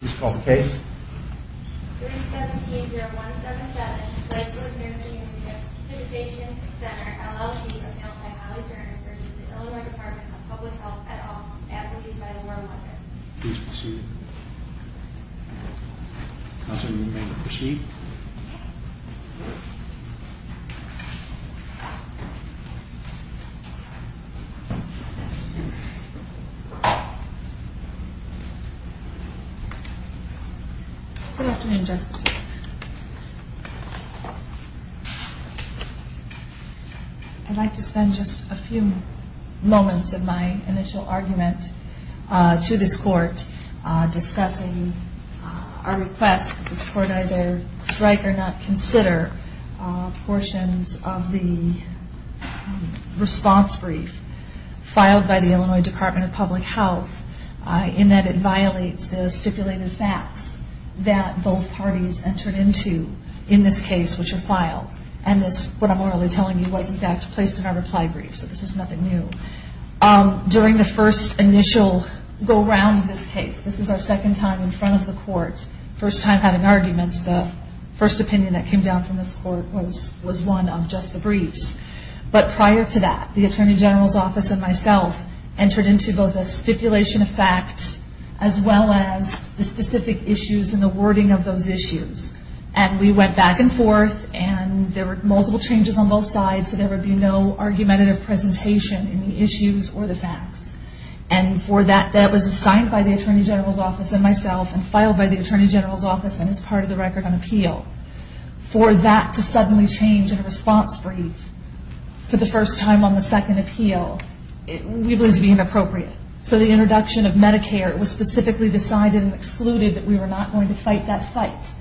317-0177 Lakewood Nursing & Rehabilitation Center, LLC Appealed by Holly Turner v. The Illinois Department of Public Health, et al. Good afternoon, Justices. I'd like to spend just a few moments of my initial argument to this Court discussing our request that this Court either strike or not consider portions of the response brief filed by the Illinois Department of Public Health in that it violates the stipulated facts that both parties entered into in this case which are filed. And this, what I'm really telling you, was in fact placed in our reply brief, so this is nothing new. During the first initial go-round of this case, this is our second time in front of the Court, first time having arguments. The first opinion that came down from this Court was one of just the briefs. But prior to that, the Attorney General's Office and myself entered into both a stipulation of facts as well as the specific issues and the wording of those issues. And we went back and forth, and there were multiple changes on both sides, so there would be no argumentative presentation in the issues or the facts. And that was assigned by the Attorney General's Office and myself and filed by the Attorney General's Office and is part of the record on appeal. For that to suddenly change in a response brief for the first time on the second appeal, we believe it to be inappropriate. So the introduction of Medicare was specifically decided and excluded that we were not going to fight that fight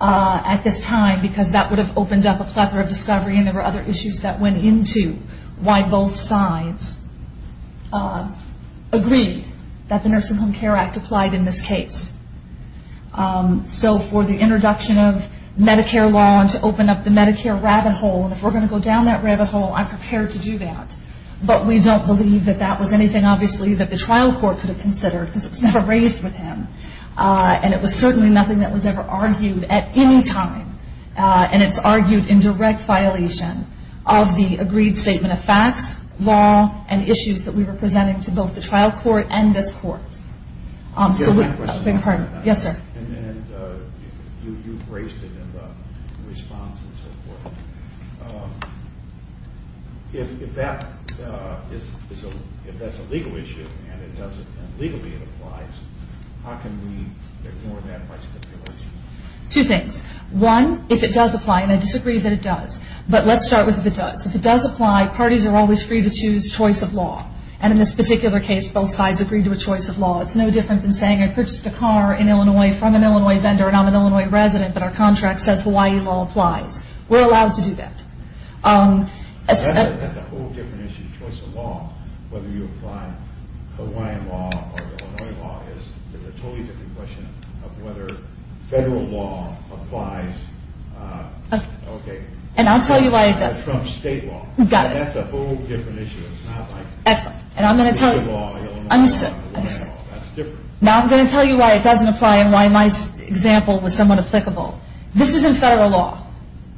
at this time because that would have opened up a plethora of discovery and there were other issues that went into why both sides agreed that the Nursing Home Care Act applied in this case. So for the introduction of Medicare law and to open up the Medicare rabbit hole, and if we're going to go down that rabbit hole, I'm prepared to do that. But we don't believe that that was anything, obviously, that the trial court could have considered because it was never raised with him. And it was certainly nothing that was ever argued at any time, and it's argued in direct violation of the agreed statement of facts, law, and issues that we were presenting to both the trial court and this court. Yes, sir. And you've raised it in the response and so forth. If that's a legal issue and legally it applies, how can we ignore that by stipulating it? Two things. One, if it does apply, and I disagree that it does, but let's start with if it does. If it does apply, parties are always free to choose choice of law, and in this particular case, both sides agreed to a choice of law. It's no different than saying I purchased a car in Illinois from an Illinois vendor and I'm an Illinois resident, but our contract says Hawaii law applies. We're allowed to do that. That's a whole different issue, choice of law, whether you apply Hawaiian law or Illinois law. It's a totally different question of whether federal law applies. Okay. And I'll tell you why it doesn't. Or Trump's state law. Got it. That's a whole different issue. Excellent. And I'm going to tell you why it doesn't apply and why my example was somewhat applicable. This isn't federal law.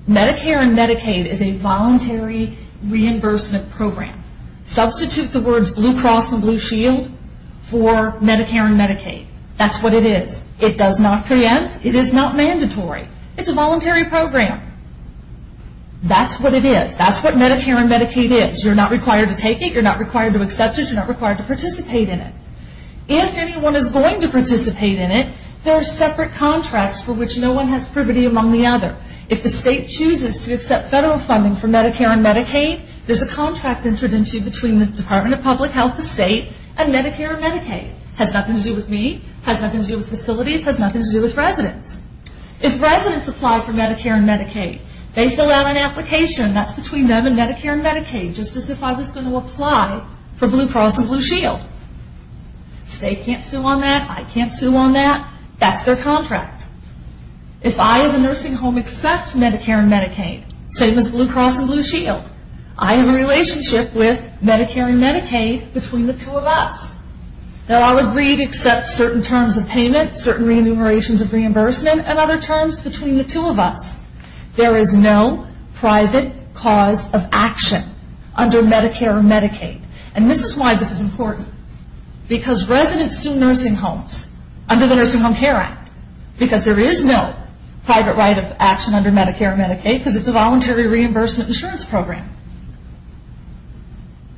Medicare and Medicaid is a voluntary reimbursement program. Substitute the words Blue Cross and Blue Shield for Medicare and Medicaid. That's what it is. It does not preempt. It is not mandatory. It's a voluntary program. That's what it is. That's what Medicare and Medicaid is. You're not required to take it. You're not required to accept it. You're not required to participate in it. If anyone is going to participate in it, there are separate contracts for which no one has privity among the other. If the state chooses to accept federal funding for Medicare and Medicaid, there's a contract entered into between the Department of Public Health, the state, and Medicare and Medicaid. It has nothing to do with me. It has nothing to do with facilities. It has nothing to do with residents. If residents apply for Medicare and Medicaid, they fill out an application. That's between them and Medicare and Medicaid, just as if I was going to apply for Blue Cross and Blue Shield. The state can't sue on that. I can't sue on that. That's their contract. If I, as a nursing home, accept Medicare and Medicaid, same as Blue Cross and Blue Shield, I am in a relationship with Medicare and Medicaid between the two of us. There are agreed except certain terms of payment, certain remunerations of reimbursement, and other terms between the two of us. There is no private cause of action under Medicare and Medicaid. And this is why this is important. Because residents sue nursing homes under the Nursing Home Care Act because there is no private right of action under Medicare and Medicaid because it's a voluntary reimbursement insurance program.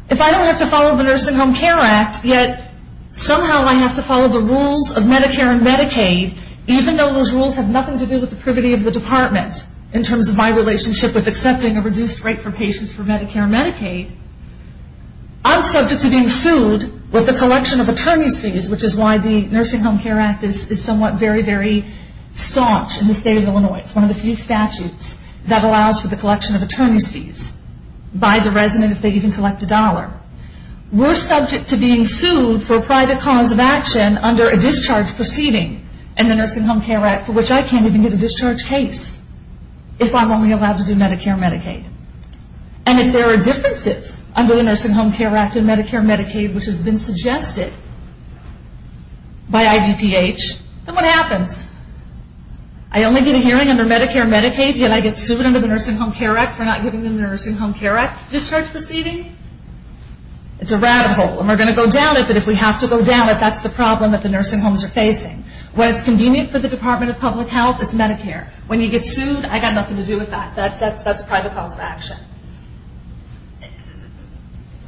If I don't have to follow the Nursing Home Care Act, yet somehow I have to follow the rules of Medicare and Medicaid, even though those rules have nothing to do with the privity of the department in terms of my relationship with accepting a reduced rate for patients for Medicare and Medicaid, I'm subject to being sued with a collection of attorney's fees, which is why the Nursing Home Care Act is somewhat very, very staunch in the state of Illinois. It's one of the few statutes that allows for the collection of attorney's fees by the resident if they even collect a dollar. We're subject to being sued for private cause of action under a discharge proceeding. And the Nursing Home Care Act, for which I can't even get a discharge case if I'm only allowed to do Medicare and Medicaid. And if there are differences under the Nursing Home Care Act and Medicare and Medicaid, which has been suggested by IDPH, then what happens? I only get a hearing under Medicare and Medicaid, yet I get sued under the Nursing Home Care Act for not giving the Nursing Home Care Act discharge proceeding? It's a rabbit hole. And we're going to go down it, but if we have to go down it, that's the problem that the nursing homes are facing. When it's convenient for the Department of Public Health, it's Medicare. When you get sued, I've got nothing to do with that. That's private cause of action.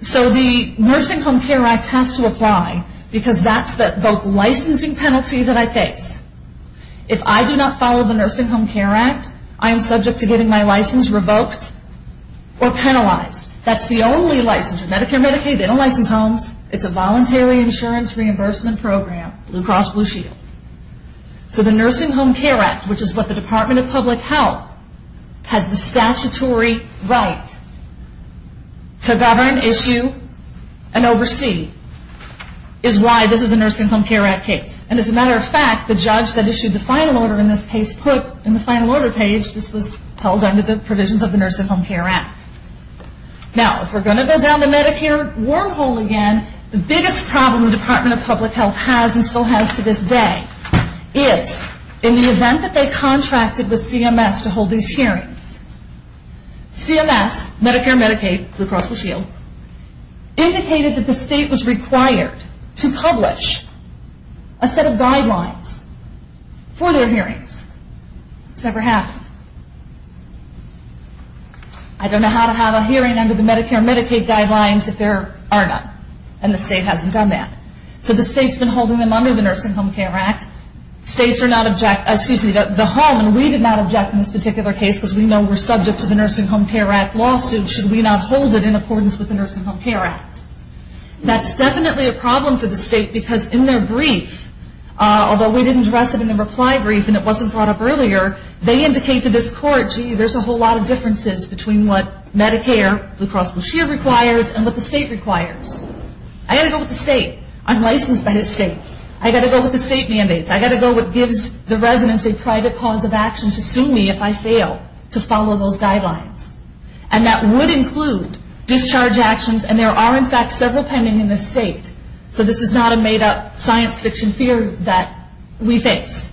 So the Nursing Home Care Act has to apply because that's the licensing penalty that I face. If I do not follow the Nursing Home Care Act, I am subject to getting my license revoked or penalized. That's the only license. Medicare and Medicaid, they don't license homes. It's a voluntary insurance reimbursement program, Blue Cross Blue Shield. So the Nursing Home Care Act, which is what the Department of Public Health has the statutory right to govern, issue, and oversee, is why this is a Nursing Home Care Act case. And as a matter of fact, the judge that issued the final order in this case put in the final order page this was held under the provisions of the Nursing Home Care Act. Now, if we're going to go down the Medicare wormhole again, the biggest problem the Department of Public Health has and still has to this day is in the event that they contracted with CMS to hold these hearings, CMS, Medicare and Medicaid, Blue Cross Blue Shield, indicated that the state was required to publish a set of guidelines for their hearings. It's never happened. I don't know how to have a hearing under the Medicare and Medicaid guidelines if there are none, and the state hasn't done that. So the state's been holding them under the Nursing Home Care Act. The home, and we did not object in this particular case because we know we're subject to the Nursing Home Care Act lawsuit should we not hold it in accordance with the Nursing Home Care Act. That's definitely a problem for the state because in their brief, although we didn't address it in the reply brief and it wasn't brought up earlier, they indicate to this court, gee, there's a whole lot of differences between what Medicare, Blue Cross Blue Shield requires and what the state requires. I've got to go with the state. I'm licensed by the state. I've got to go with the state mandates. I've got to go with what gives the residents a private cause of action to sue me if I fail to follow those guidelines. And that would include discharge actions, and there are, in fact, several pending in this state. So this is not a made-up science fiction fear that we face.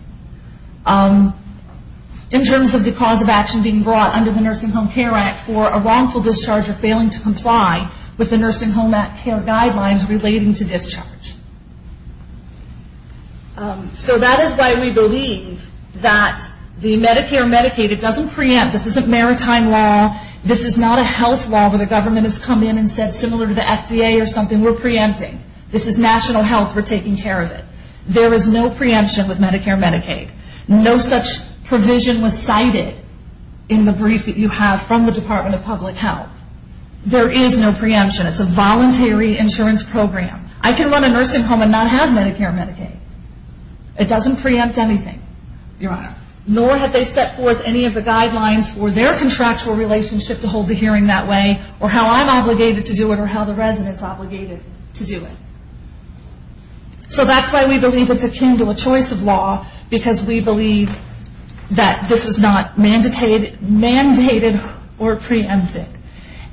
In terms of the cause of action being brought under the Nursing Home Care Act for a wrongful discharge or failing to comply with the Nursing Home Care Act guidelines relating to discharge. So that is why we believe that the Medicare Medicaid, it doesn't preempt. This isn't maritime law. This is not a health law where the government has come in and said similar to the FDA or something, we're preempting. This is national health. We're taking care of it. There is no preemption with Medicare Medicaid. No such provision was cited in the brief that you have from the Department of Public Health. There is no preemption. It's a voluntary insurance program. I can run a nursing home and not have Medicare Medicaid. It doesn't preempt anything, Your Honor. Nor have they set forth any of the guidelines for their contractual relationship to hold the hearing that way or how I'm obligated to do it or how the resident is obligated to do it. So that's why we believe it's akin to a choice of law because we believe that this is not mandated or preempted.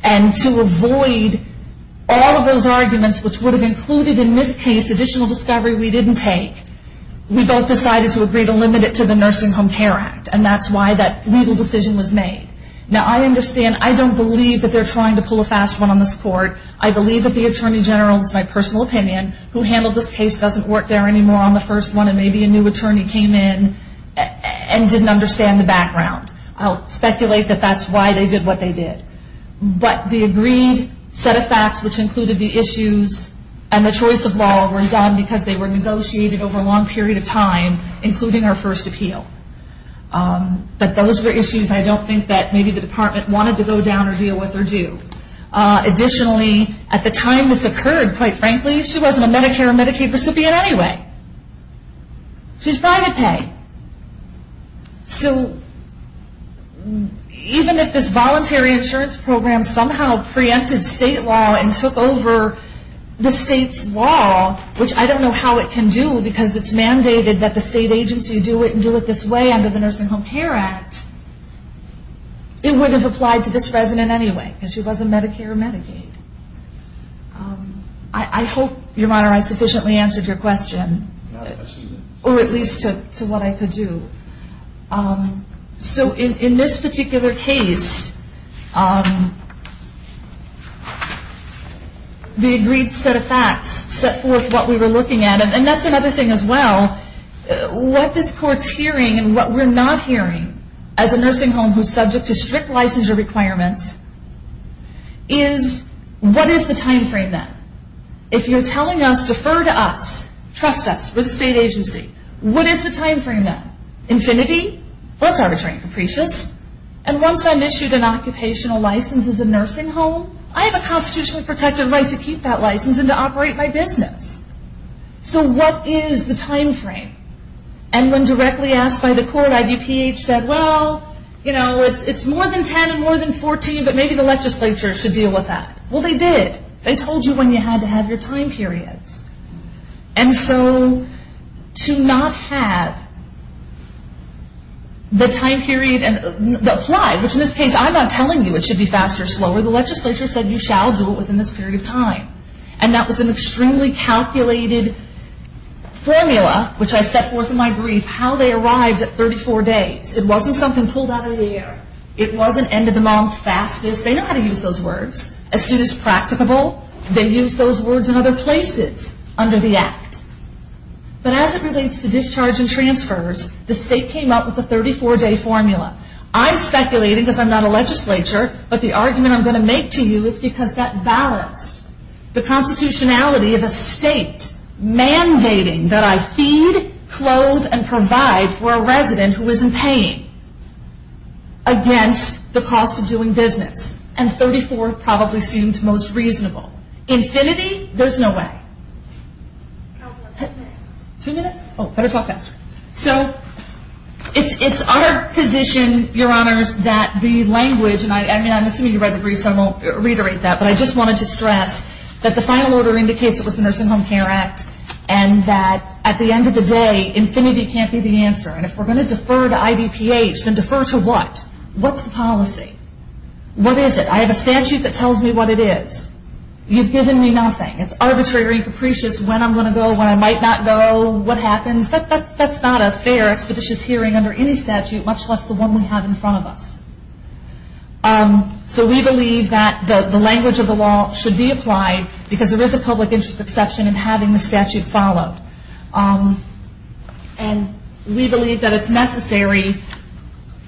And to avoid all of those arguments which would have included in this case additional discovery we didn't take, we both decided to agree to limit it to the Nursing Home Care Act, and that's why that legal decision was made. Now, I understand. I don't believe that they're trying to pull a fast one on this court. I believe that the Attorney General, it's my personal opinion, who handled this case doesn't work there anymore on the first one, and maybe a new attorney came in and didn't understand the background. I'll speculate that that's why they did what they did. But the agreed set of facts which included the issues and the choice of law were done because they were negotiated over a long period of time, including our first appeal. But those were issues I don't think that maybe the Department wanted to go down or deal with or do. Additionally, at the time this occurred, quite frankly, she wasn't a Medicare or Medicaid recipient anyway. She's private pay. So even if this voluntary insurance program somehow preempted state law and took over the state's law, which I don't know how it can do because it's mandated that the state agency do it and do it this way under the Nursing Home Care Act, it wouldn't have applied to this resident anyway because she wasn't Medicare or Medicaid. I hope, Your Honor, I sufficiently answered your question, or at least to what I could do. So in this particular case, the agreed set of facts set forth what we were looking at. And that's another thing as well. What this Court's hearing and what we're not hearing as a nursing home who's subject to strict licensure requirements is, what is the time frame then? If you're telling us, defer to us, trust us, we're the state agency, what is the time frame then? Infinity? Well, it's arbitrary and capricious. And once I'm issued an occupational license as a nursing home, I have a constitutionally protected right to keep that license and to operate my business. So what is the time frame? And when directly asked by the Court, IDPH said, well, you know, it's more than 10 and more than 14, but maybe the legislature should deal with that. Well, they did. They told you when you had to have your time periods. And so to not have the time period applied, which in this case I'm not telling you it should be fast or slow, or the legislature said you shall do it within this period of time. And that was an extremely calculated formula, which I set forth in my brief, how they arrived at 34 days. It wasn't something pulled out of the air. It wasn't end of the month fastest. They know how to use those words. As soon as practicable, they use those words in other places under the Act. But as it relates to discharge and transfers, the state came up with a 34-day formula. I'm speculating because I'm not a legislature, but the argument I'm going to make to you is because that balanced the constitutionality of a state mandating that I feed, clothe, and provide for a resident who is in pain against the cost of doing business. And 34 probably seemed most reasonable. Infinity? There's no way. Two minutes? Oh, better talk faster. So it's our position, Your Honors, that the language, and I'm assuming you read the brief, so I won't reiterate that, but I just wanted to stress that the final order indicates it was the Nursing Home Care Act and that at the end of the day, infinity can't be the answer. And if we're going to defer to IDPH, then defer to what? What's the policy? What is it? I have a statute that tells me what it is. You've given me nothing. It's arbitrary and capricious when I'm going to go, when I might not go, what happens. That's not a fair, expeditious hearing under any statute, much less the one we have in front of us. So we believe that the language of the law should be applied because there is a public interest exception in having the statute followed. And we believe that it's necessary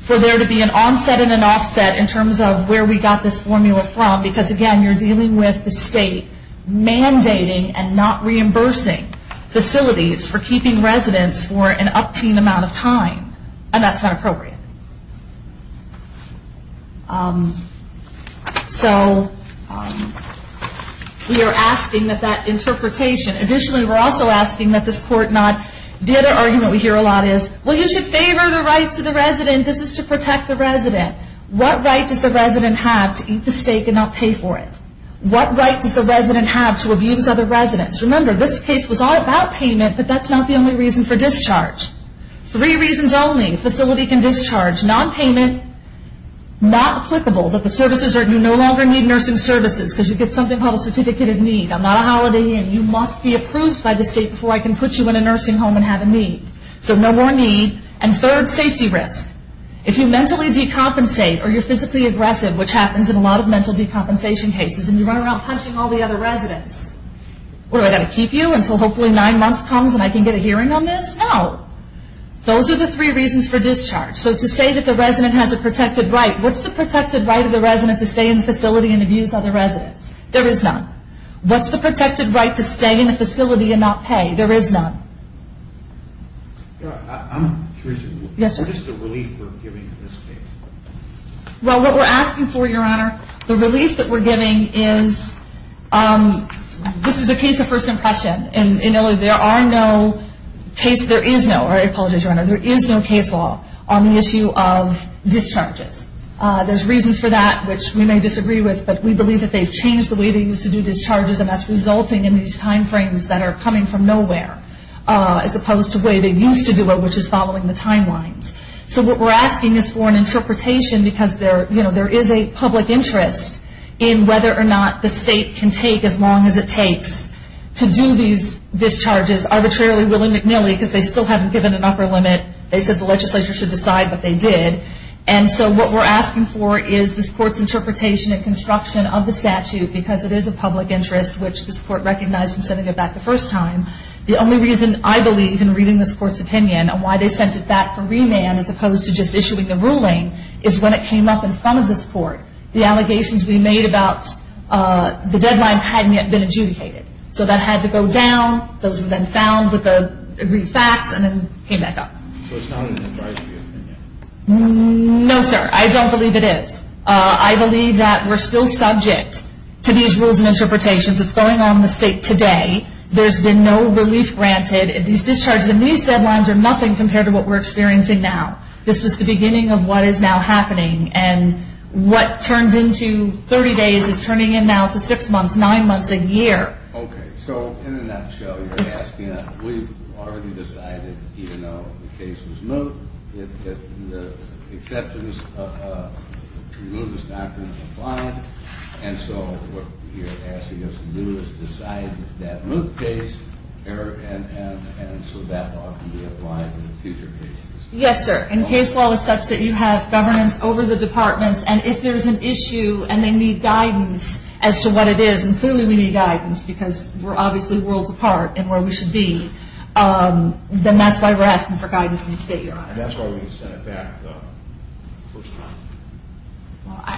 for there to be an onset and an offset in terms of where we got this formula from because, again, you're dealing with the state mandating and not reimbursing facilities for keeping residents for an upteen amount of time. And that's not appropriate. So we are asking that that interpretation. Additionally, we're also asking that this court not, the other argument we hear a lot is, well, you should favor the rights of the resident. This is to protect the resident. What right does the resident have to eat the steak and not pay for it? What right does the resident have to abuse other residents? Remember, this case was all about payment, but that's not the only reason for discharge. Three reasons only. Facility can discharge, nonpayment, not applicable, that the services are, you no longer need nursing services because you get something called a certificate of need. I'm not a holiday inn. You must be approved by the state before I can put you in a nursing home and have a need. So no more need. And third, safety risk. If you mentally decompensate or you're physically aggressive, which happens in a lot of mental decompensation cases, and you run around punching all the other residents, what, do I got to keep you until hopefully nine months comes and I can get a hearing on this? No. Those are the three reasons for discharge. So to say that the resident has a protected right, what's the protected right of the resident to stay in the facility and abuse other residents? There is none. What's the protected right to stay in a facility and not pay? There is none. I'm curious. Yes, sir. What is the relief we're giving in this case? Well, what we're asking for, Your Honor, the relief that we're giving is this is a case of first impression. And, you know, there are no cases, there is no, I apologize, Your Honor, there is no case law on the issue of discharges. There's reasons for that, which we may disagree with, but we believe that they've changed the way they used to do discharges, and that's resulting in these time frames that are coming from nowhere, as opposed to the way they used to do it, which is following the timelines. So what we're asking is for an interpretation, because, you know, there is a public interest in whether or not the state can take as long as it takes to do these discharges, arbitrarily willy-nilly, because they still haven't given an upper limit. They said the legislature should decide, but they did. And so what we're asking for is this Court's interpretation and construction of the statute, because it is a public interest, which this Court recognized in sending it back the first time. The only reason I believe in reading this Court's opinion and why they sent it back for remand as opposed to just issuing the ruling is when it came up in front of this Court. The allegations we made about the deadlines hadn't yet been adjudicated. So that had to go down. Those were then found with the agreed facts, and then came back up. So it's not an advisory opinion? No, sir. I don't believe it is. I believe that we're still subject to these rules and interpretations. It's going on in the state today. There's been no relief granted. These discharges and these deadlines are nothing compared to what we're experiencing now. This was the beginning of what is now happening, and what turned into 30 days is turning in now to 6 months, 9 months, a year. Okay. So in a nutshell, you're asking us, we've already decided even though the case was moved, that the exceptions to the move is not going to be applied. And so what you're asking us to do is decide that move case, and so that law can be applied in future cases. Yes, sir. And case law is such that you have governance over the departments, and if there's an issue and they need guidance as to what it is, and clearly we need guidance because we're obviously worlds apart in where we should be, then that's why we're asking for guidance in the state, Your Honor. And that's why we sent it back the first time.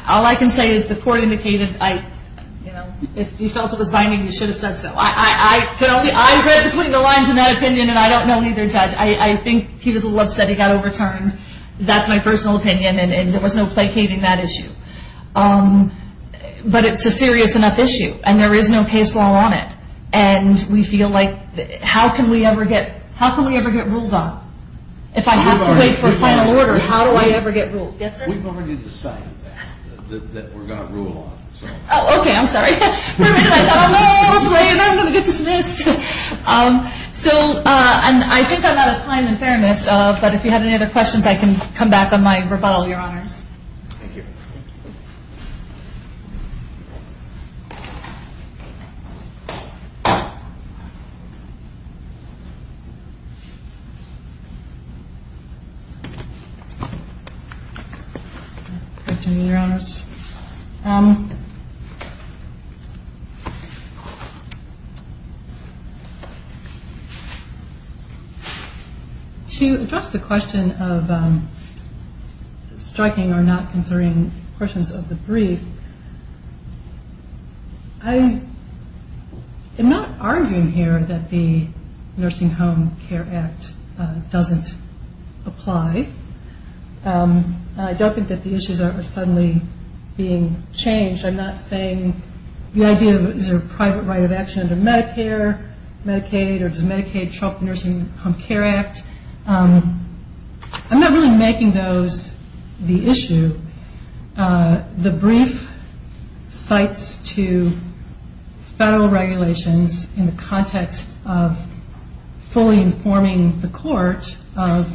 All I can say is the court indicated, you know, if you felt it was binding, you should have said so. I read between the lines in that opinion, and I don't know either judge. I think he was a little upset he got overturned. That's my personal opinion, and there was no placating that issue. But it's a serious enough issue, and there is no case law on it, and we feel like how can we ever get ruled on? If I have to wait for a final order, how do I ever get ruled? Yes, sir. We've already decided that we're going to rule on it. Oh, okay. I'm sorry. For a minute I thought I'm going to go this way and then I'm going to get dismissed. So I think I'm out of time and fairness, but if you have any other questions, I can come back on my rebuttal, Your Honors. Thank you. To address the question of striking or not concerning the statute, of the brief, I am not arguing here that the Nursing Home Care Act doesn't apply. I don't think that the issues are suddenly being changed. I'm not saying the idea is there a private right of action under Medicare, Medicaid, or does Medicaid trump the Nursing Home Care Act? I'm not really making those the issue. The brief cites to federal regulations in the context of fully informing the court of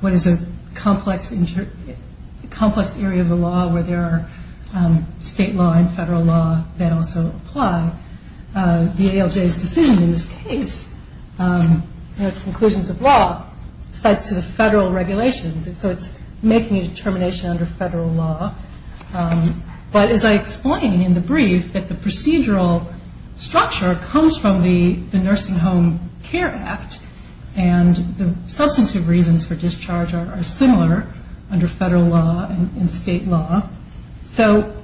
what is a complex area of the law where there are state law and federal law that also apply. The ALJ's decision in this case, in its conclusions of law, cites to the federal regulations, so it's making a determination under federal law. But as I explained in the brief, that the procedural structure comes from the Nursing Home Care Act and the substantive reasons for discharge are similar under federal law and state law. So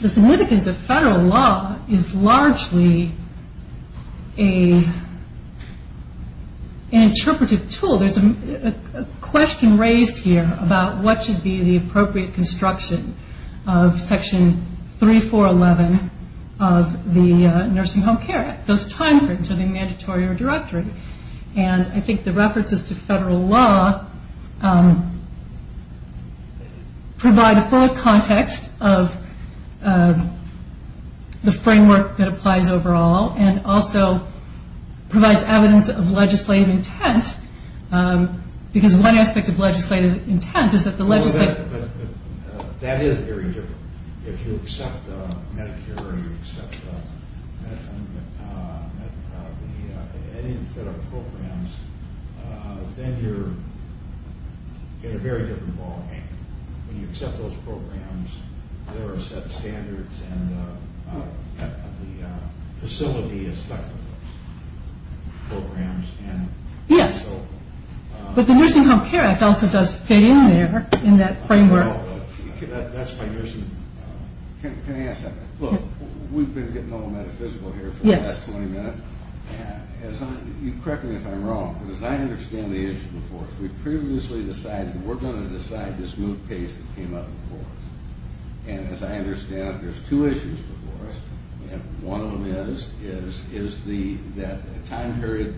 the significance of federal law is largely an interpretive tool. There's a question raised here about what should be the appropriate construction of Section 3411 of the Nursing Home Care Act, those timeframes of a mandatory or directory. I think the references to federal law provide a full context of the framework that applies overall and also provides evidence of legislative intent. Because one aspect of legislative intent is that the legislature... then you're in a very different ballgame. When you accept those programs, there are set standards and the facility aspect of those programs. Yes, but the Nursing Home Care Act also does fit in there, in that framework. Can I ask that? Look, we've been getting all metaphysical here for the last 20 minutes. You correct me if I'm wrong, because I understand the issue before us. We previously decided that we're going to decide this move pace that came up before us. And as I understand it, there's two issues before us. One of them is, is that time period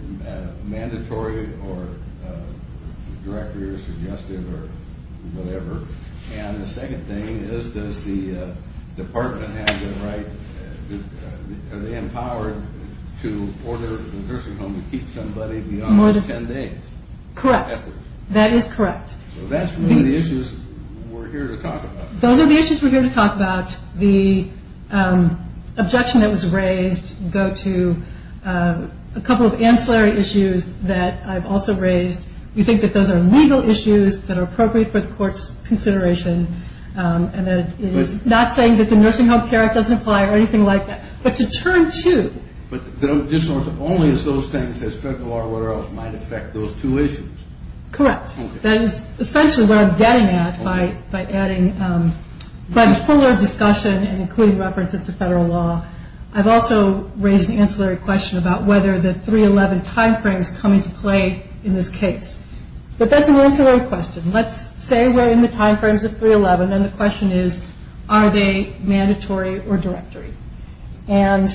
mandatory or directory or suggestive or whatever? And the second thing is, does the department have the right... are they empowered to order the nursing home to keep somebody beyond 10 days? Correct. That is correct. So that's one of the issues we're here to talk about. Those are the issues we're here to talk about. The objection that was raised go to a couple of ancillary issues that I've also raised. We think that those are legal issues that are appropriate for the court's consideration. And it is not saying that the Nursing Home Care Act doesn't apply or anything like that. But to turn to... But only as those things as federal or whatever else might affect those two issues. Correct. That is essentially what I'm getting at by adding... by the fuller discussion and including references to federal law. I've also raised an ancillary question about whether the 311 time frames come into play in this case. But that's an ancillary question. Let's say we're in the time frames of 311 and the question is, are they mandatory or directory? And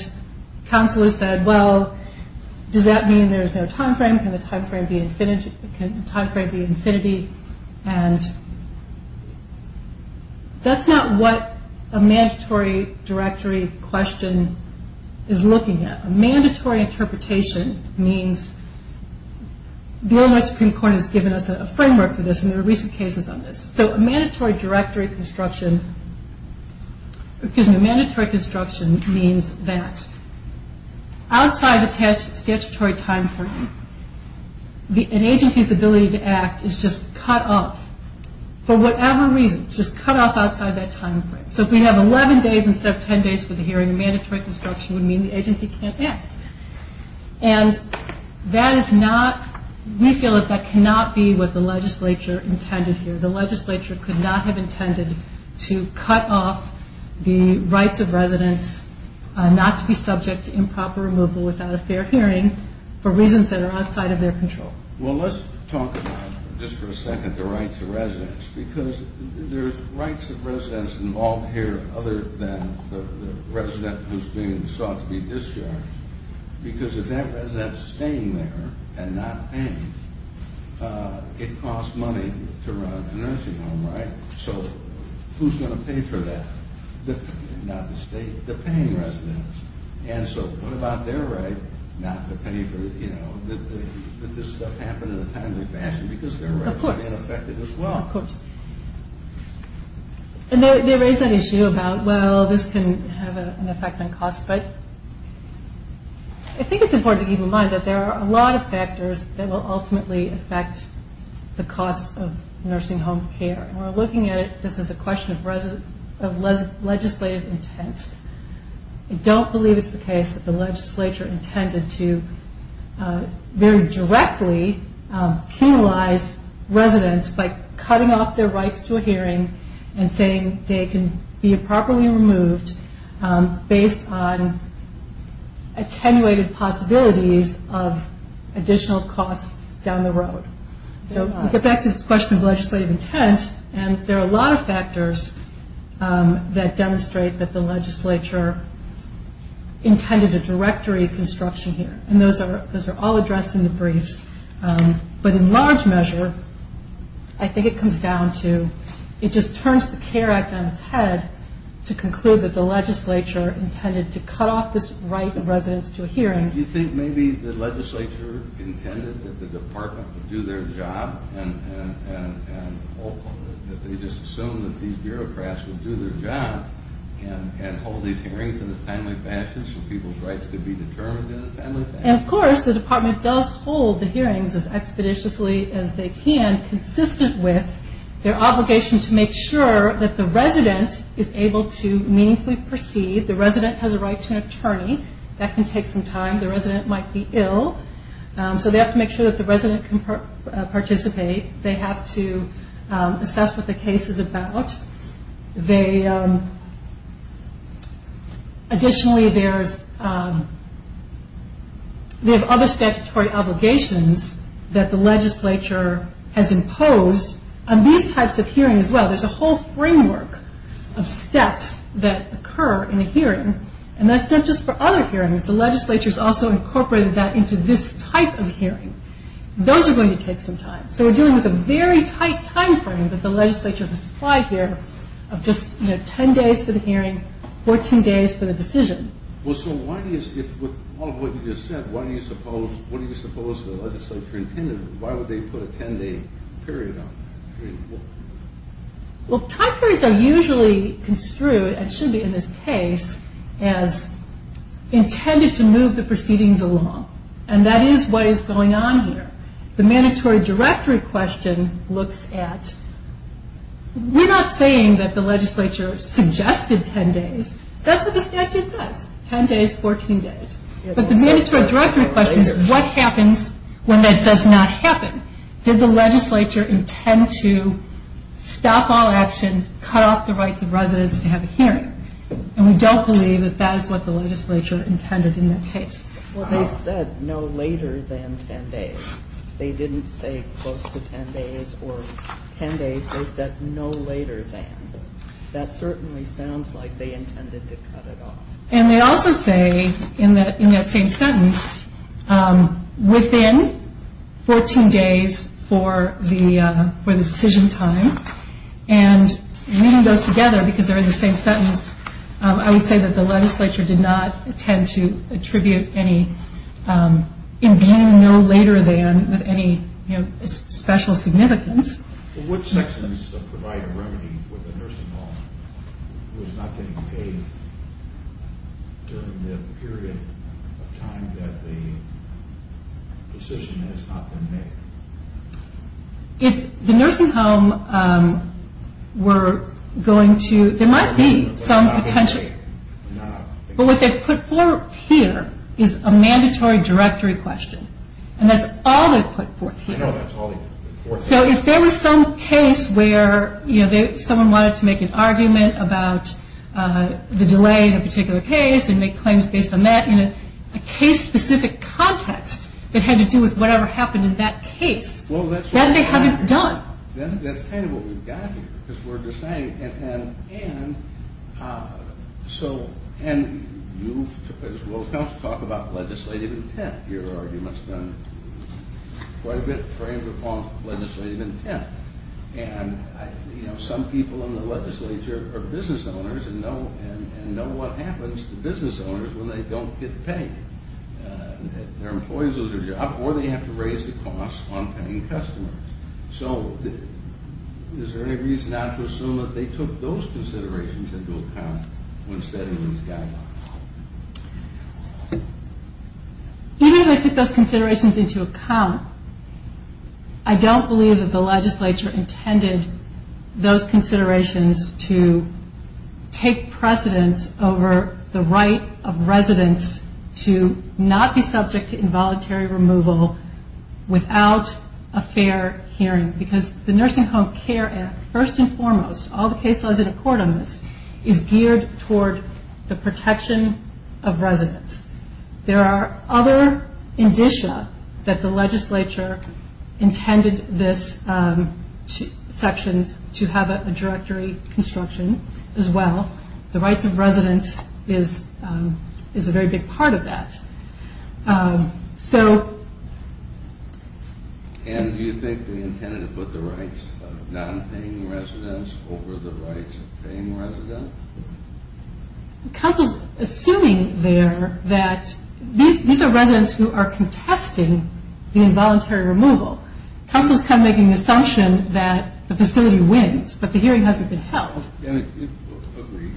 counsel has said, well, does that mean there's no time frame? Can the time frame be infinity? And that's not what a mandatory directory question is looking at. A mandatory interpretation means... The Illinois Supreme Court has given us a framework for this and there are recent cases on this. So a mandatory directory construction... Excuse me. A mandatory construction means that outside of a statutory time frame, an agency's ability to act is just cut off for whatever reason. Just cut off outside that time frame. So if we have 11 days instead of 10 days for the hearing, a mandatory construction would mean the agency can't act. And that is not... We feel that that cannot be what the legislature intended here. The legislature could not have intended to cut off the rights of residents not to be subject to improper removal without a fair hearing for reasons that are outside of their control. Well, let's talk about, just for a second, the rights of residents because there's rights of residents involved here other than the resident who's being sought to be discharged because if that resident's staying there and not paying, it costs money to run a nursing home, right? So who's going to pay for that? Not the state, the paying residents. And so what about their right not to pay for, you know, that this stuff happened in a timely fashion because their rights are being affected as well. Of course. And they raise that issue about, well, this can have an effect on cost, but I think it's important to keep in mind that there are a lot of factors that will ultimately affect the cost of nursing home care. When we're looking at it, this is a question of legislative intent. I don't believe it's the case that the legislature intended to very directly penalize residents by cutting off their rights to a hearing and saying they can be improperly removed based on attenuated possibilities of additional costs down the road. So we get back to this question of legislative intent and there are a lot of factors that demonstrate that the legislature intended a directory construction here, and those are all addressed in the briefs. But in large measure, I think it comes down to it just turns the CARE Act on its head to conclude that the legislature intended to cut off this right of residents to a hearing. Do you think maybe the legislature intended that the department would do their job and ultimately that they just assumed that these bureaucrats would do their job and hold these hearings in a timely fashion so people's rights could be determined in a timely fashion? Of course, the department does hold the hearings as expeditiously as they can, consistent with their obligation to make sure that the resident is able to meaningfully proceed. The resident has a right to an attorney. That can take some time. The resident might be ill. So they have to make sure that the resident can participate. They have to assess what the case is about. Additionally, they have other statutory obligations that the legislature has imposed on these types of hearings as well. There's a whole framework of steps that occur in a hearing and that's not just for other hearings. Those are going to take some time. So we're dealing with a very tight time frame that the legislature has applied here of just 10 days for the hearing, 14 days for the decision. With all of what you just said, what do you suppose the legislature intended? Why would they put a 10-day period on it? Well, time periods are usually construed, and should be in this case, as intended to move the proceedings along. And that is what is going on here. The mandatory directory question looks at... We're not saying that the legislature suggested 10 days. That's what the statute says. 10 days, 14 days. But the mandatory directory question is, what happens when that does not happen? Did the legislature intend to stop all action, cut off the rights of residents to have a hearing? And we don't believe that that is what the legislature intended in that case. Well, they said no later than 10 days. They didn't say close to 10 days or 10 days. They said no later than. That certainly sounds like they intended to cut it off. And they also say in that same sentence, within 14 days for the decision time, and reading those together because they're in the same sentence, I would say that the legislature did not intend to attribute any... in being no later than with any special significance. Well, would sections provide a remedy for the nursing home who is not getting paid during the period of time that the decision has not been made? If the nursing home were going to... There might be some potential. But what they put forth here is a mandatory directory question. And that's all they put forth here. So if there was some case where someone wanted to make an argument about the delay in a particular case and make claims based on that in a case-specific context that had to do with whatever happened in that case, then they have it done. Then that's kind of what we've got here. Because we're deciding... And you, as well, talk about legislative intent. Your argument's been quite a bit framed upon legislative intent. And some people in the legislature are business owners and know what happens to business owners when they don't get paid. Their employees lose their job or they have to raise the cost on paying customers. So is there any reason not to assume that they took those considerations into account when setting these guidelines? Even if they took those considerations into account, I don't believe that the legislature intended those considerations to take precedence over the right of residents to not be subject to involuntary removal without a fair hearing. Because the Nursing Home Care Act, first and foremost, all the case laws that accord on this, is geared toward the protection of residents. There are other indicia that the legislature intended this section to have a directory construction, as well. The rights of residents is a very big part of that. So... And do you think they intended to put the rights of non-paying residents over the rights of paying residents? Council's assuming there that these are residents who are contesting the involuntary removal. Council's kind of making the assumption that the facility wins, but the hearing hasn't been held. I don't agree.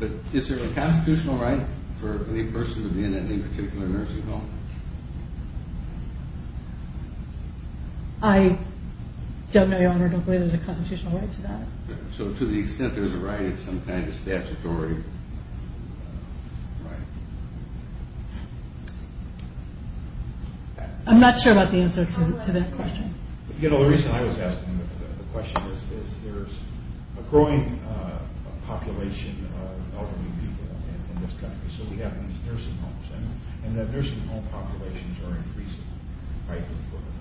But is there a constitutional right for the person to be in any particular nursing home? I don't know, Your Honor. I don't believe there's a constitutional right to that. So to the extent there's a right, it's some kind of statutory right. I'm not sure about the answer to that question. You know, the reason I was asking the question is there's a growing population of elderly people in this country. So we have these nursing homes. And the nursing home populations are increasing, right?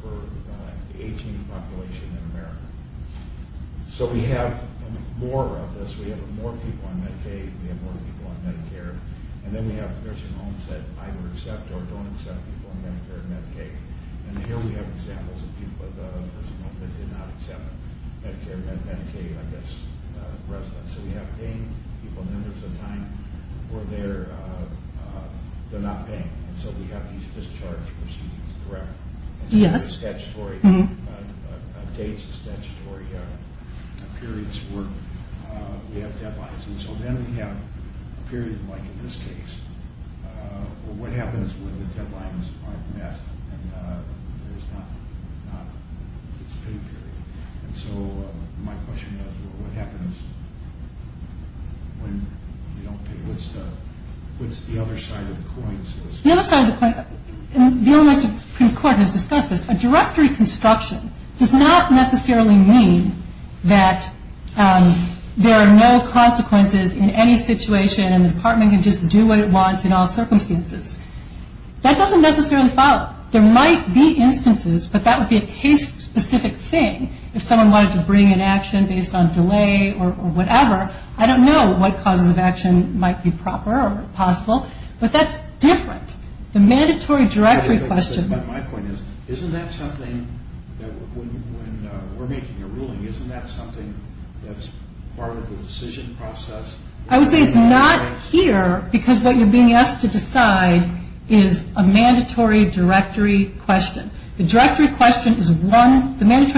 For the 18th population in America. So we have more of this. We have more people on Medicaid. We have more people on Medicare. And then we have nursing homes that either accept or don't accept people on Medicare and Medicaid. And here we have examples of people at a nursing home that did not accept Medicare and Medicaid, I guess, residents. So we have paying people numbers of time where they're not paying. And so we have these discharge proceedings, correct? Yes. It's not a statutory date. It's a statutory period's work. We have deadlines. And so then we have a period like in this case where what happens when the deadlines aren't met and there's not a pay period. And so my question is, well, what happens when you don't pay? What's the other side of the coin? The other side of the coin, and the Illinois Supreme Court has discussed this. A directory construction does not necessarily mean that there are no consequences in any situation and the department can just do what it wants in all circumstances. That doesn't necessarily follow. There might be instances, but that would be a case-specific thing. If someone wanted to bring an action based on delay or whatever, I don't know what causes of action might be proper or possible, but that's different. The mandatory directory question. My point is, isn't that something that when we're making a ruling, isn't that something that's part of the decision process? I would say it's not here because what you're being asked to decide is a mandatory directory question. The mandatory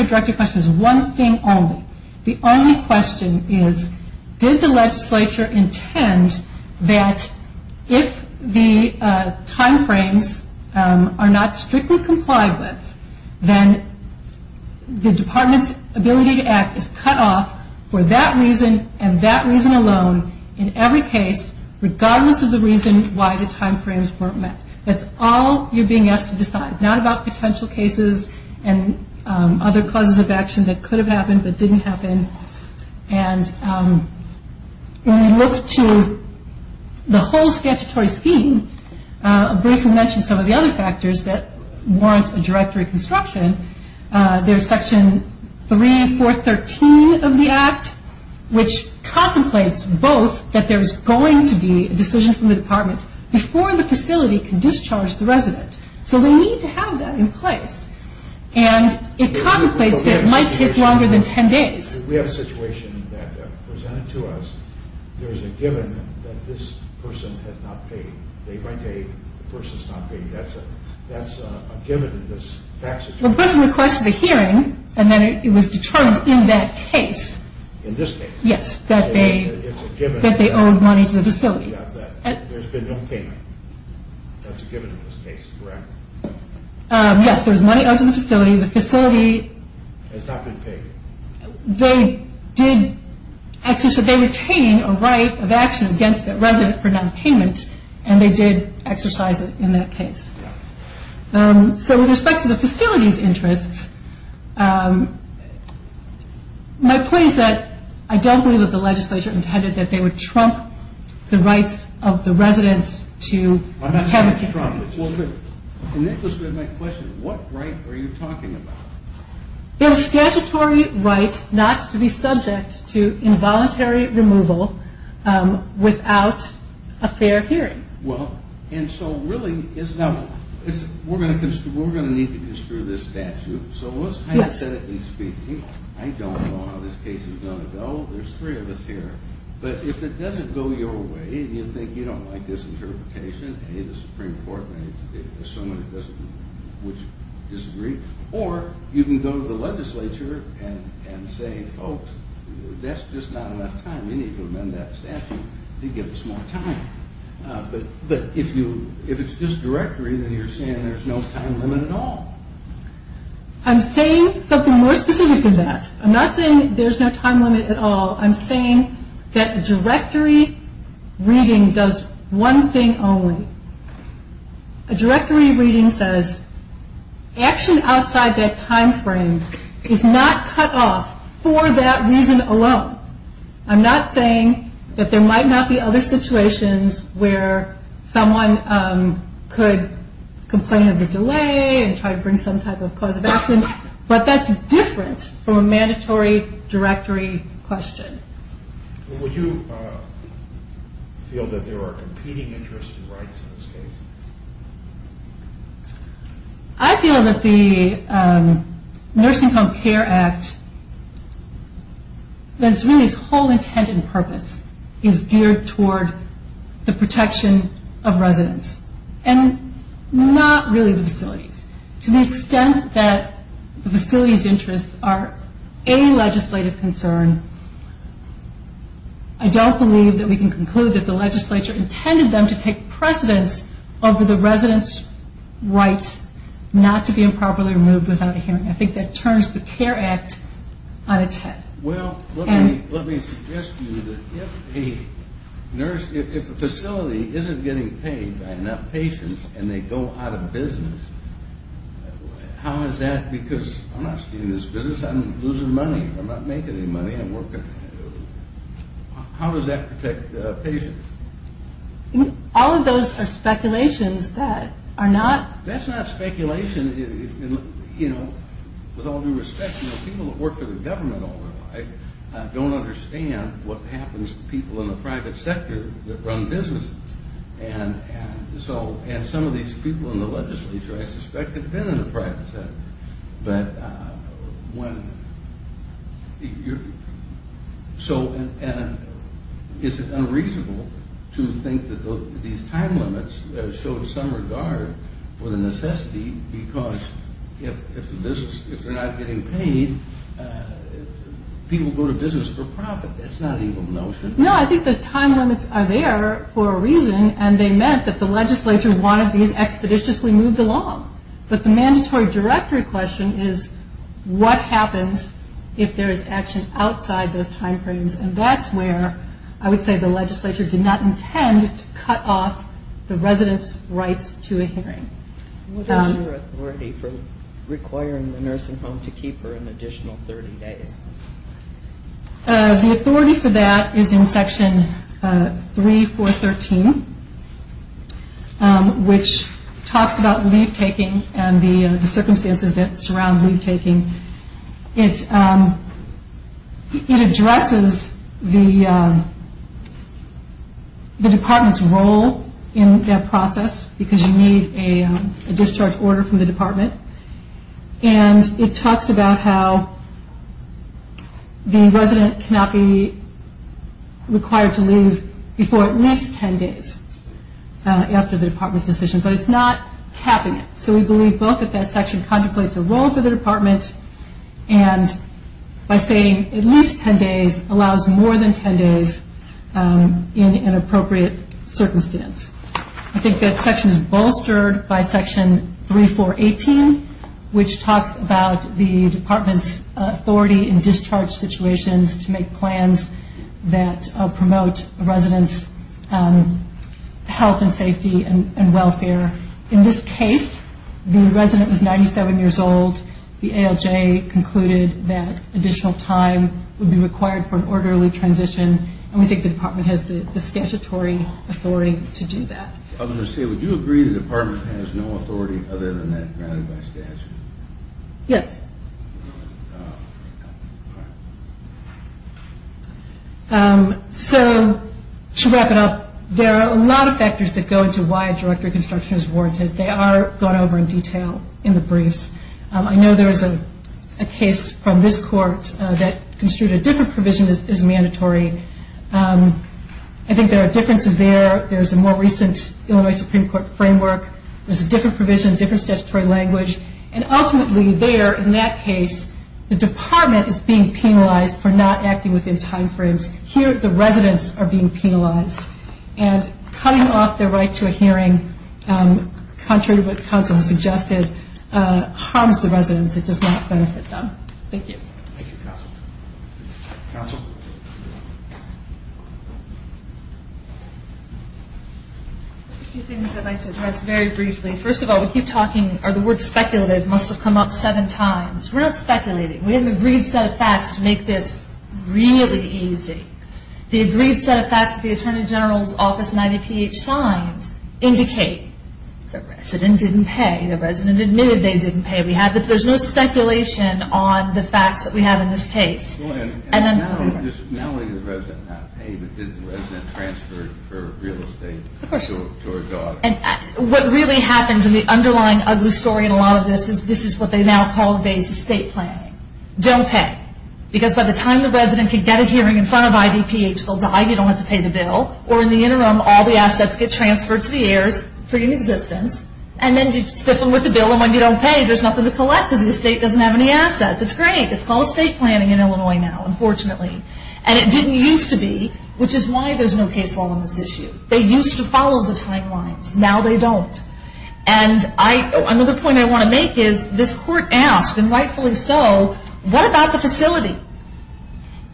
directory question is one thing only. The only question is, did the legislature intend that if the time frames are not strictly complied with, then the department's ability to act is cut off for that reason and that reason alone in every case, regardless of the reason why the time frames weren't met. That's all you're being asked to decide, not about potential cases and other causes of action that could have happened but didn't happen. When we look to the whole statutory scheme, I'll briefly mention some of the other factors that warrant a directory construction. There's section 3, 4, 13 of the Act, which contemplates both that there's going to be a decision from the department before the facility can discharge the resident. So we need to have that in place. And it contemplates that it might take longer than 10 days. We have a situation that presented to us, there's a given that this person has not paid. They write a person's not paid. That's a given in this statute. The person requested a hearing and then it was determined in that case. In this case? Yes, that they owed money to the facility. There's been no payment. That's a given in this case, correct? Yes, there's money owed to the facility. The facility... Has not been paid. They retained a right of action against the resident for non-payment and they did exercise it in that case. So with respect to the facility's interests, my point is that I don't believe that the legislature intended that they would trump the rights of the residents to have a hearing. I'm not saying it's trumped. In interest of my question, what right are you talking about? It's statutory right not to be subject to involuntary removal without a fair hearing. Well, and so really... Now, we're going to need to construe this statute. So let's hypothetically speak, I don't know how this case is going to go. There's three of us here. But if it doesn't go your way, and you think you don't like this interpretation, the Supreme Court may assume it doesn't disagree, or you can go to the legislature and say, folks, that's just not enough time. We need to amend that statute to give us more time. But if it's just directory, then you're saying there's no time limit at all. I'm saying something more specific than that. I'm not saying there's no time limit at all. I'm saying that directory reading does one thing only. A directory reading says action outside that time frame is not cut off for that reason alone. I'm not saying that there might not be other situations where someone could complain of a delay and try to bring some type of cause of action, but that's different from a mandatory directory question. Well, would you feel that there are competing interests and rights in this case? I feel that the Nursing Home Care Act, that it's really its whole intent and purpose is geared toward the protection of residents and not really the facilities, to the extent that the facility's interests are a legislative concern, I don't believe that we can conclude that the legislature intended them to take precedence over the residents' rights not to be improperly removed without a hearing. I think that turns the Care Act on its head. Well, let me suggest to you that if a facility isn't getting paid by enough patients and they go out of business, how is that because I'm not staying in this business, I'm losing money, I'm not making any money, I'm working. How does that protect patients? All of those are speculations that are not... That's not speculation. With all due respect, people that work for the government all their life don't understand what happens to people in the private sector that run businesses. And some of these people in the legislature, I suspect, have been in the private sector. Is it unreasonable to think that these time limits show some regard for the necessity because if they're not getting paid, people go to business for profit? That's not an evil notion. No, I think the time limits are there for a reason and they meant that the legislature wanted these expeditiously moved along. But the mandatory directory question is what happens if there is action outside those time frames and that's where I would say the legislature did not intend to cut off the residents' rights to a hearing. What is your authority for requiring the nursing home to keep her an additional 30 days? The authority for that is in section 3413, which talks about leave taking and the circumstances that surround leave taking. It addresses the department's role in that process because you need a discharge order from the department. And it talks about how the resident cannot be required to leave before at least 10 days after the department's decision. But it's not capping it. So we believe both that that section contemplates a role for the department and by saying at least 10 days, allows more than 10 days in an appropriate circumstance. I think that section is bolstered by section 3418, which talks about the department's authority in discharge situations to make plans that promote a resident's health and safety and welfare. In this case, the resident was 97 years old. The ALJ concluded that additional time would be required for an orderly transition and we think the department has the statutory authority to do that. I was going to say, would you agree the department has no authority other than that granted by statute? Yes. So to wrap it up, there are a lot of factors that go into why a direct reconstruction is warranted. They are gone over in detail in the briefs. I know there is a case from this court that construed a different provision as mandatory. I think there are differences there. There's a more recent Illinois Supreme Court framework. There's a different provision, different statutory language. And ultimately there in that case, the department is being penalized for not acting within time frames. Here the residents are being penalized. And cutting off their right to a hearing, contrary to what counsel has suggested, harms the residents. It does not benefit them. Thank you. Thank you, counsel. Counsel? A few things I'd like to address very briefly. First of all, we keep talking, or the word speculative must have come up seven times. We're not speculating. We have an agreed set of facts to make this really easy. The agreed set of facts that the Attorney General's Office 90 PH signed indicate the resident didn't pay. The resident admitted they didn't pay. There's no speculation on the facts that we have in this case. Melody, the resident not pay, but did the resident transfer her real estate to her daughter? What really happens in the underlying ugly story in a lot of this is this is what they now call today's estate planning. Don't pay. Because by the time the resident can get a hearing in front of IDPH, they'll die. You don't have to pay the bill. Or in the interim, all the assets get transferred to the heirs, free of existence, and then you stiff them with the bill. And when you don't pay, there's nothing to collect because the estate doesn't have any assets. It's great. It's called estate planning in Illinois now, unfortunately. And it didn't used to be, which is why there's no case law on this issue. They used to follow the timelines. Now they don't. And another point I want to make is this court asked, and rightfully so, what about the facility?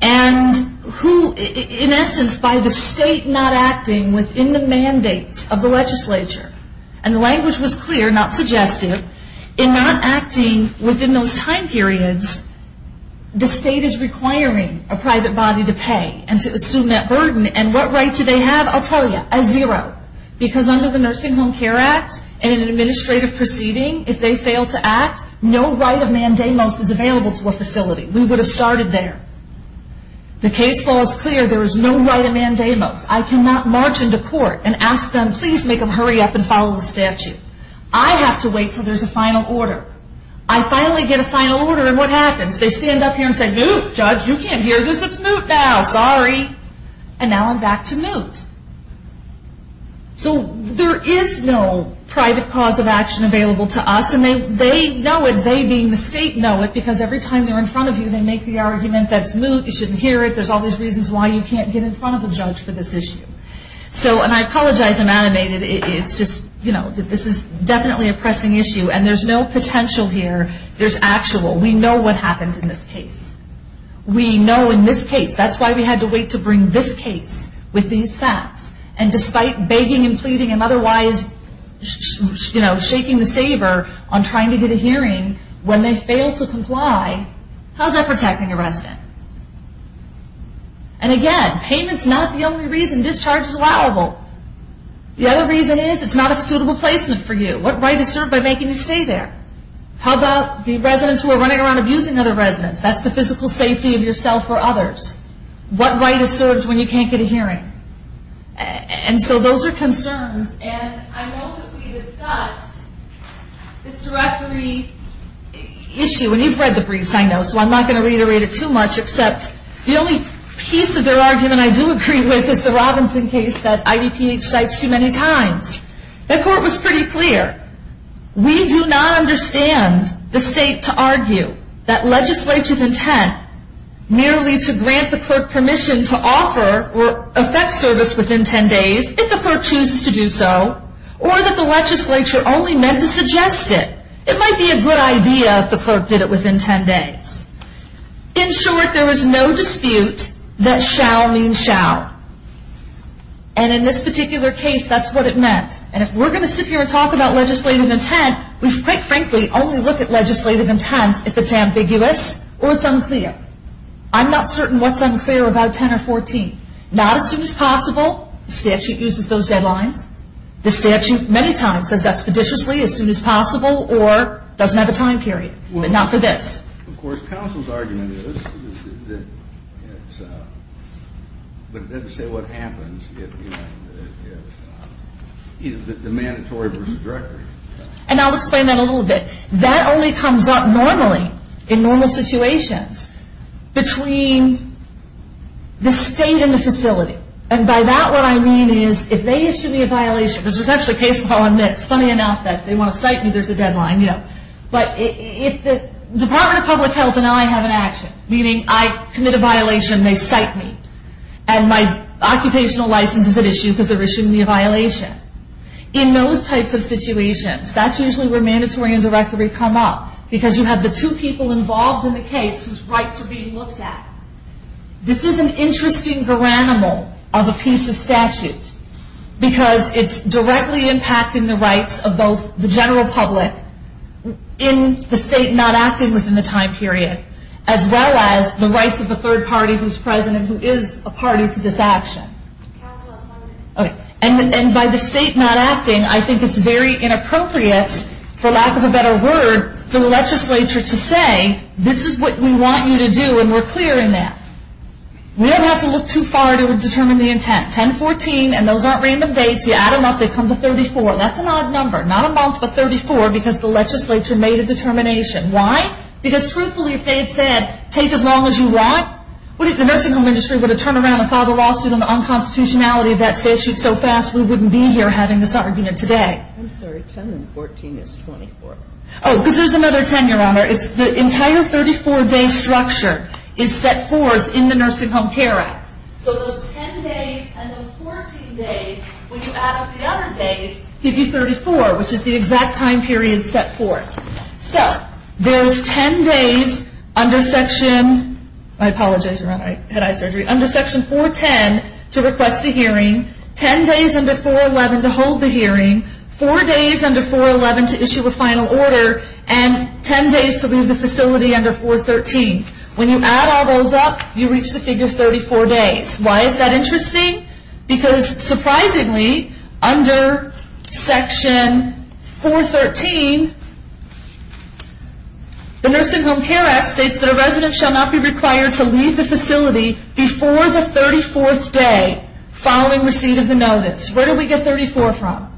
And who, in essence, by the state not acting within the mandates of the legislature, and the language was clear, not suggestive, in not acting within those time periods, the state is requiring a private body to pay and to assume that burden. And what right do they have? I'll tell you. A zero. Because under the Nursing Home Care Act, in an administrative proceeding, if they fail to act, no right of mandamus is available to a facility. We would have started there. The case law is clear. There is no right of mandamus. I cannot march into court and ask them, please make them hurry up and follow the statute. I have to wait until there's a final order. I finally get a final order, and what happens? They stand up here and say, Moot, judge, you can't hear this. It's moot now. Sorry. And now I'm back to moot. So there is no private cause of action available to us, and they know it. They, being the state, know it because every time they're in front of you, they make the argument that it's moot, you shouldn't hear it, there's all these reasons why you can't get in front of a judge for this issue. So, and I apologize I'm animated, it's just, you know, this is definitely a pressing issue, and there's no potential here. There's actual. We know what happens in this case. We know in this case. That's why we had to wait to bring this case with these facts. And despite begging and pleading and otherwise, you know, shaking the saber on trying to get a hearing, when they fail to comply, how's that protecting a resident? And again, payment's not the only reason. Payment and discharge is allowable. The other reason is it's not a suitable placement for you. What right is served by making you stay there? How about the residents who are running around abusing other residents? That's the physical safety of yourself or others. What right is served when you can't get a hearing? And so those are concerns, and I know that we discussed this directory issue, and you've read the briefs, I know, so I'm not going to reiterate it too much, except the only piece of their argument I do agree with is the Robinson case that IDPH cites too many times. That court was pretty clear. We do not understand the state to argue that legislative intent merely to grant the clerk permission to offer or effect service within ten days, if the clerk chooses to do so, or that the legislature only meant to suggest it. It might be a good idea if the clerk did it within ten days. In short, there was no dispute that shall mean shall. And in this particular case, that's what it meant. And if we're going to sit here and talk about legislative intent, we quite frankly only look at legislative intent if it's ambiguous or it's unclear. I'm not certain what's unclear about 10 or 14. Not as soon as possible. The statute uses those deadlines. The statute many times says expeditiously, as soon as possible, or doesn't have a time period, but not for this. Of course, counsel's argument is that it's, but it doesn't say what happens if, you know, if either the mandatory versus direct. And I'll explain that a little bit. That only comes up normally in normal situations between the state and the facility. And by that, what I mean is if they issue me a violation, because there's actually a case law on this, funny enough, that they want to cite me, there's a deadline, you know. But if the Department of Public Health and I have an action, meaning I commit a violation, they cite me. And my occupational license is at issue because they're issuing me a violation. In those types of situations, that's usually where mandatory and directory come up. Because you have the two people involved in the case whose rights are being looked at. This is an interesting granule of a piece of statute because it's directly impacting the rights of both the general public in the state not acting within the time period, as well as the rights of the third party who's present and who is a party to this action. And by the state not acting, I think it's very inappropriate, for lack of a better word, for the legislature to say, this is what we want you to do and we're clear in that. We don't have to look too far to determine the intent. 10-14, and those aren't random dates. You add them up, they come to 34. That's an odd number. Not a month, but 34, because the legislature made a determination. Why? Because truthfully, if they had said, take as long as you want, wouldn't the nursing home industry turn around and file the lawsuit on the unconstitutionality of that statute so fast we wouldn't be here having this argument today? I'm sorry, 10-14 is 24. Oh, because there's another 10, Your Honor. It's the entire 34-day structure is set forth in the Nursing Home Care Act. So those 10 days and those 14 days, when you add up the other days, give you 34, which is the exact time period set forth. So there's 10 days under Section 410 to request a hearing, 10 days under 411 to hold the hearing, 4 days under 411 to issue a final order, and 10 days to leave the facility under 413. When you add all those up, you reach the figure 34 days. Why is that interesting? Because surprisingly, under Section 413, the Nursing Home Care Act states that a resident shall not be required to leave the facility before the 34th day following receipt of the notice. Where do we get 34 from?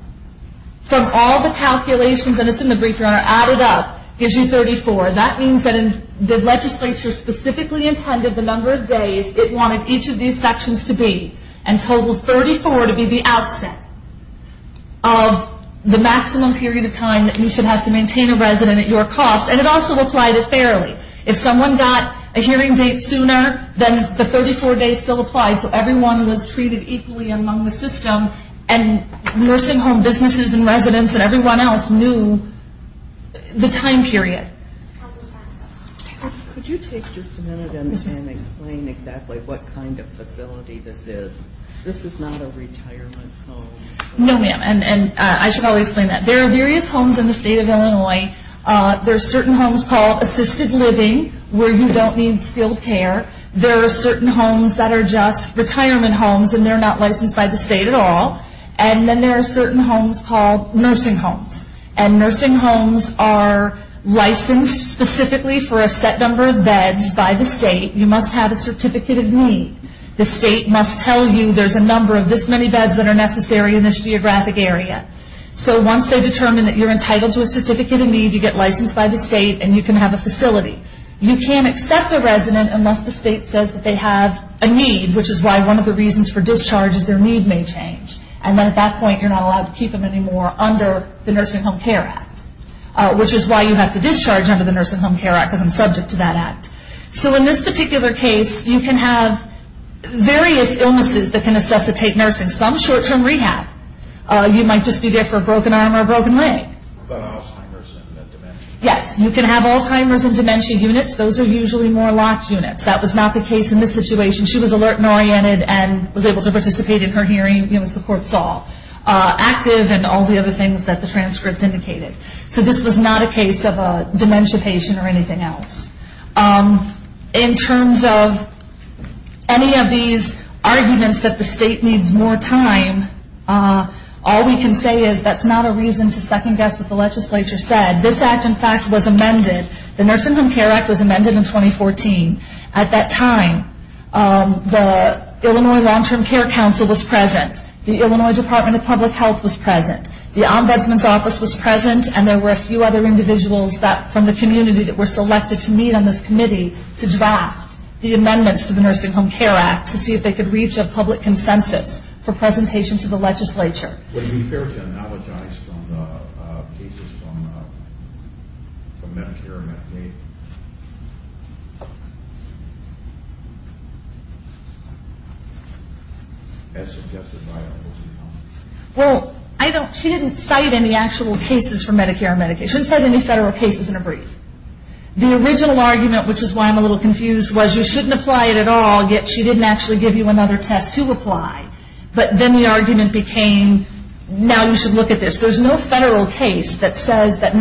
From all the calculations, and it's in the brief, Your Honor, added up gives you 34. That means that the legislature specifically intended the number of days it wanted each of these sections to be. And totaled 34 to be the outset of the maximum period of time that you should have to maintain a resident at your cost. And it also applied it fairly. If someone got a hearing date sooner, then the 34 days still applied. So everyone was treated equally among the system, and nursing home businesses and residents and everyone else knew the time period. Could you take just a minute and explain exactly what kind of facility this is? This is not a retirement home. No, ma'am. And I should probably explain that. There are various homes in the state of Illinois. There are certain homes called assisted living, where you don't need skilled care. There are certain homes that are just retirement homes, and they're not licensed by the state at all. And then there are certain homes called nursing homes. And nursing homes are licensed specifically for a set number of beds by the state. You must have a certificate of need. The state must tell you there's a number of this many beds that are necessary in this geographic area. So once they determine that you're entitled to a certificate of need, you get licensed by the state and you can have a facility. You can't accept a resident unless the state says that they have a need, which is why one of the reasons for discharge is their need may change. And then at that point you're not allowed to keep them anymore under the Nursing Home Care Act, which is why you have to discharge under the Nursing Home Care Act because I'm subject to that act. So in this particular case, you can have various illnesses that can necessitate nursing, some short-term rehab. You might just be there for a broken arm or a broken leg. What about Alzheimer's and dementia? Yes, you can have Alzheimer's and dementia units. Those are usually more locked units. That was not the case in this situation. She was alert and oriented and was able to participate in her hearing, as the court saw, active and all the other things that the transcript indicated. So this was not a case of a dementia patient or anything else. In terms of any of these arguments that the state needs more time, all we can say is that's not a reason to second-guess what the legislature said. This act, in fact, was amended. The Nursing Home Care Act was amended in 2014. At that time, the Illinois Long-Term Care Council was present. The Illinois Department of Public Health was present. The Ombudsman's Office was present, and there were a few other individuals from the community that were selected to meet on this committee to draft the amendments to the Nursing Home Care Act to see if they could reach a public consensus for presentation to the legislature. Would it be fair to analogize cases from Medicare and Medicaid? As suggested by the Ombudsman. Well, she didn't cite any actual cases from Medicare and Medicaid. She didn't cite any federal cases in her brief. The original argument, which is why I'm a little confused, was you shouldn't apply it at all, yet she didn't actually give you another test to apply. But then the argument became, now you should look at this. There's no federal case that says that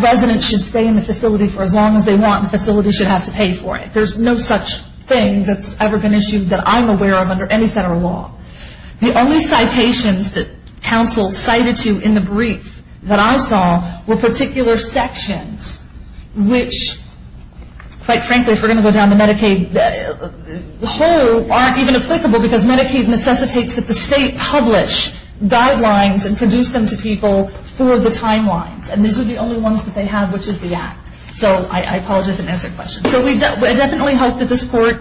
residents should stay in the facility for as long as they want and the facility should have to pay for it. There's no such thing that's ever been issued that I'm aware of under any federal law. The only citations that counsel cited to in the brief that I saw were particular sections, which, quite frankly, if we're going to go down the Medicaid hole, aren't even applicable because Medicaid necessitates that the state publish guidelines and produce them to people for the timelines. And these are the only ones that they have, which is the Act. So I apologize if I didn't answer your question. So I definitely hope that this Court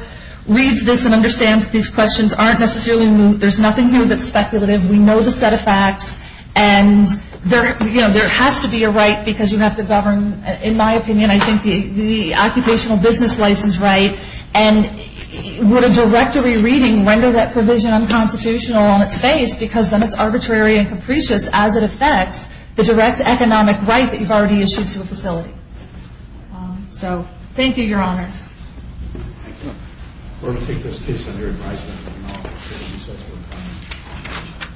reads this and understands that these questions aren't necessarily new. There's nothing here that's speculative. We know the set of facts. And there has to be a right because you have to govern, in my opinion, I think the occupational business license right. And would a directory reading render that provision unconstitutional on its face because then it's arbitrary and capricious as it affects the direct economic right that you've already issued to a facility. So thank you, Your Honors. Thank you. We're going to take this case under advisement.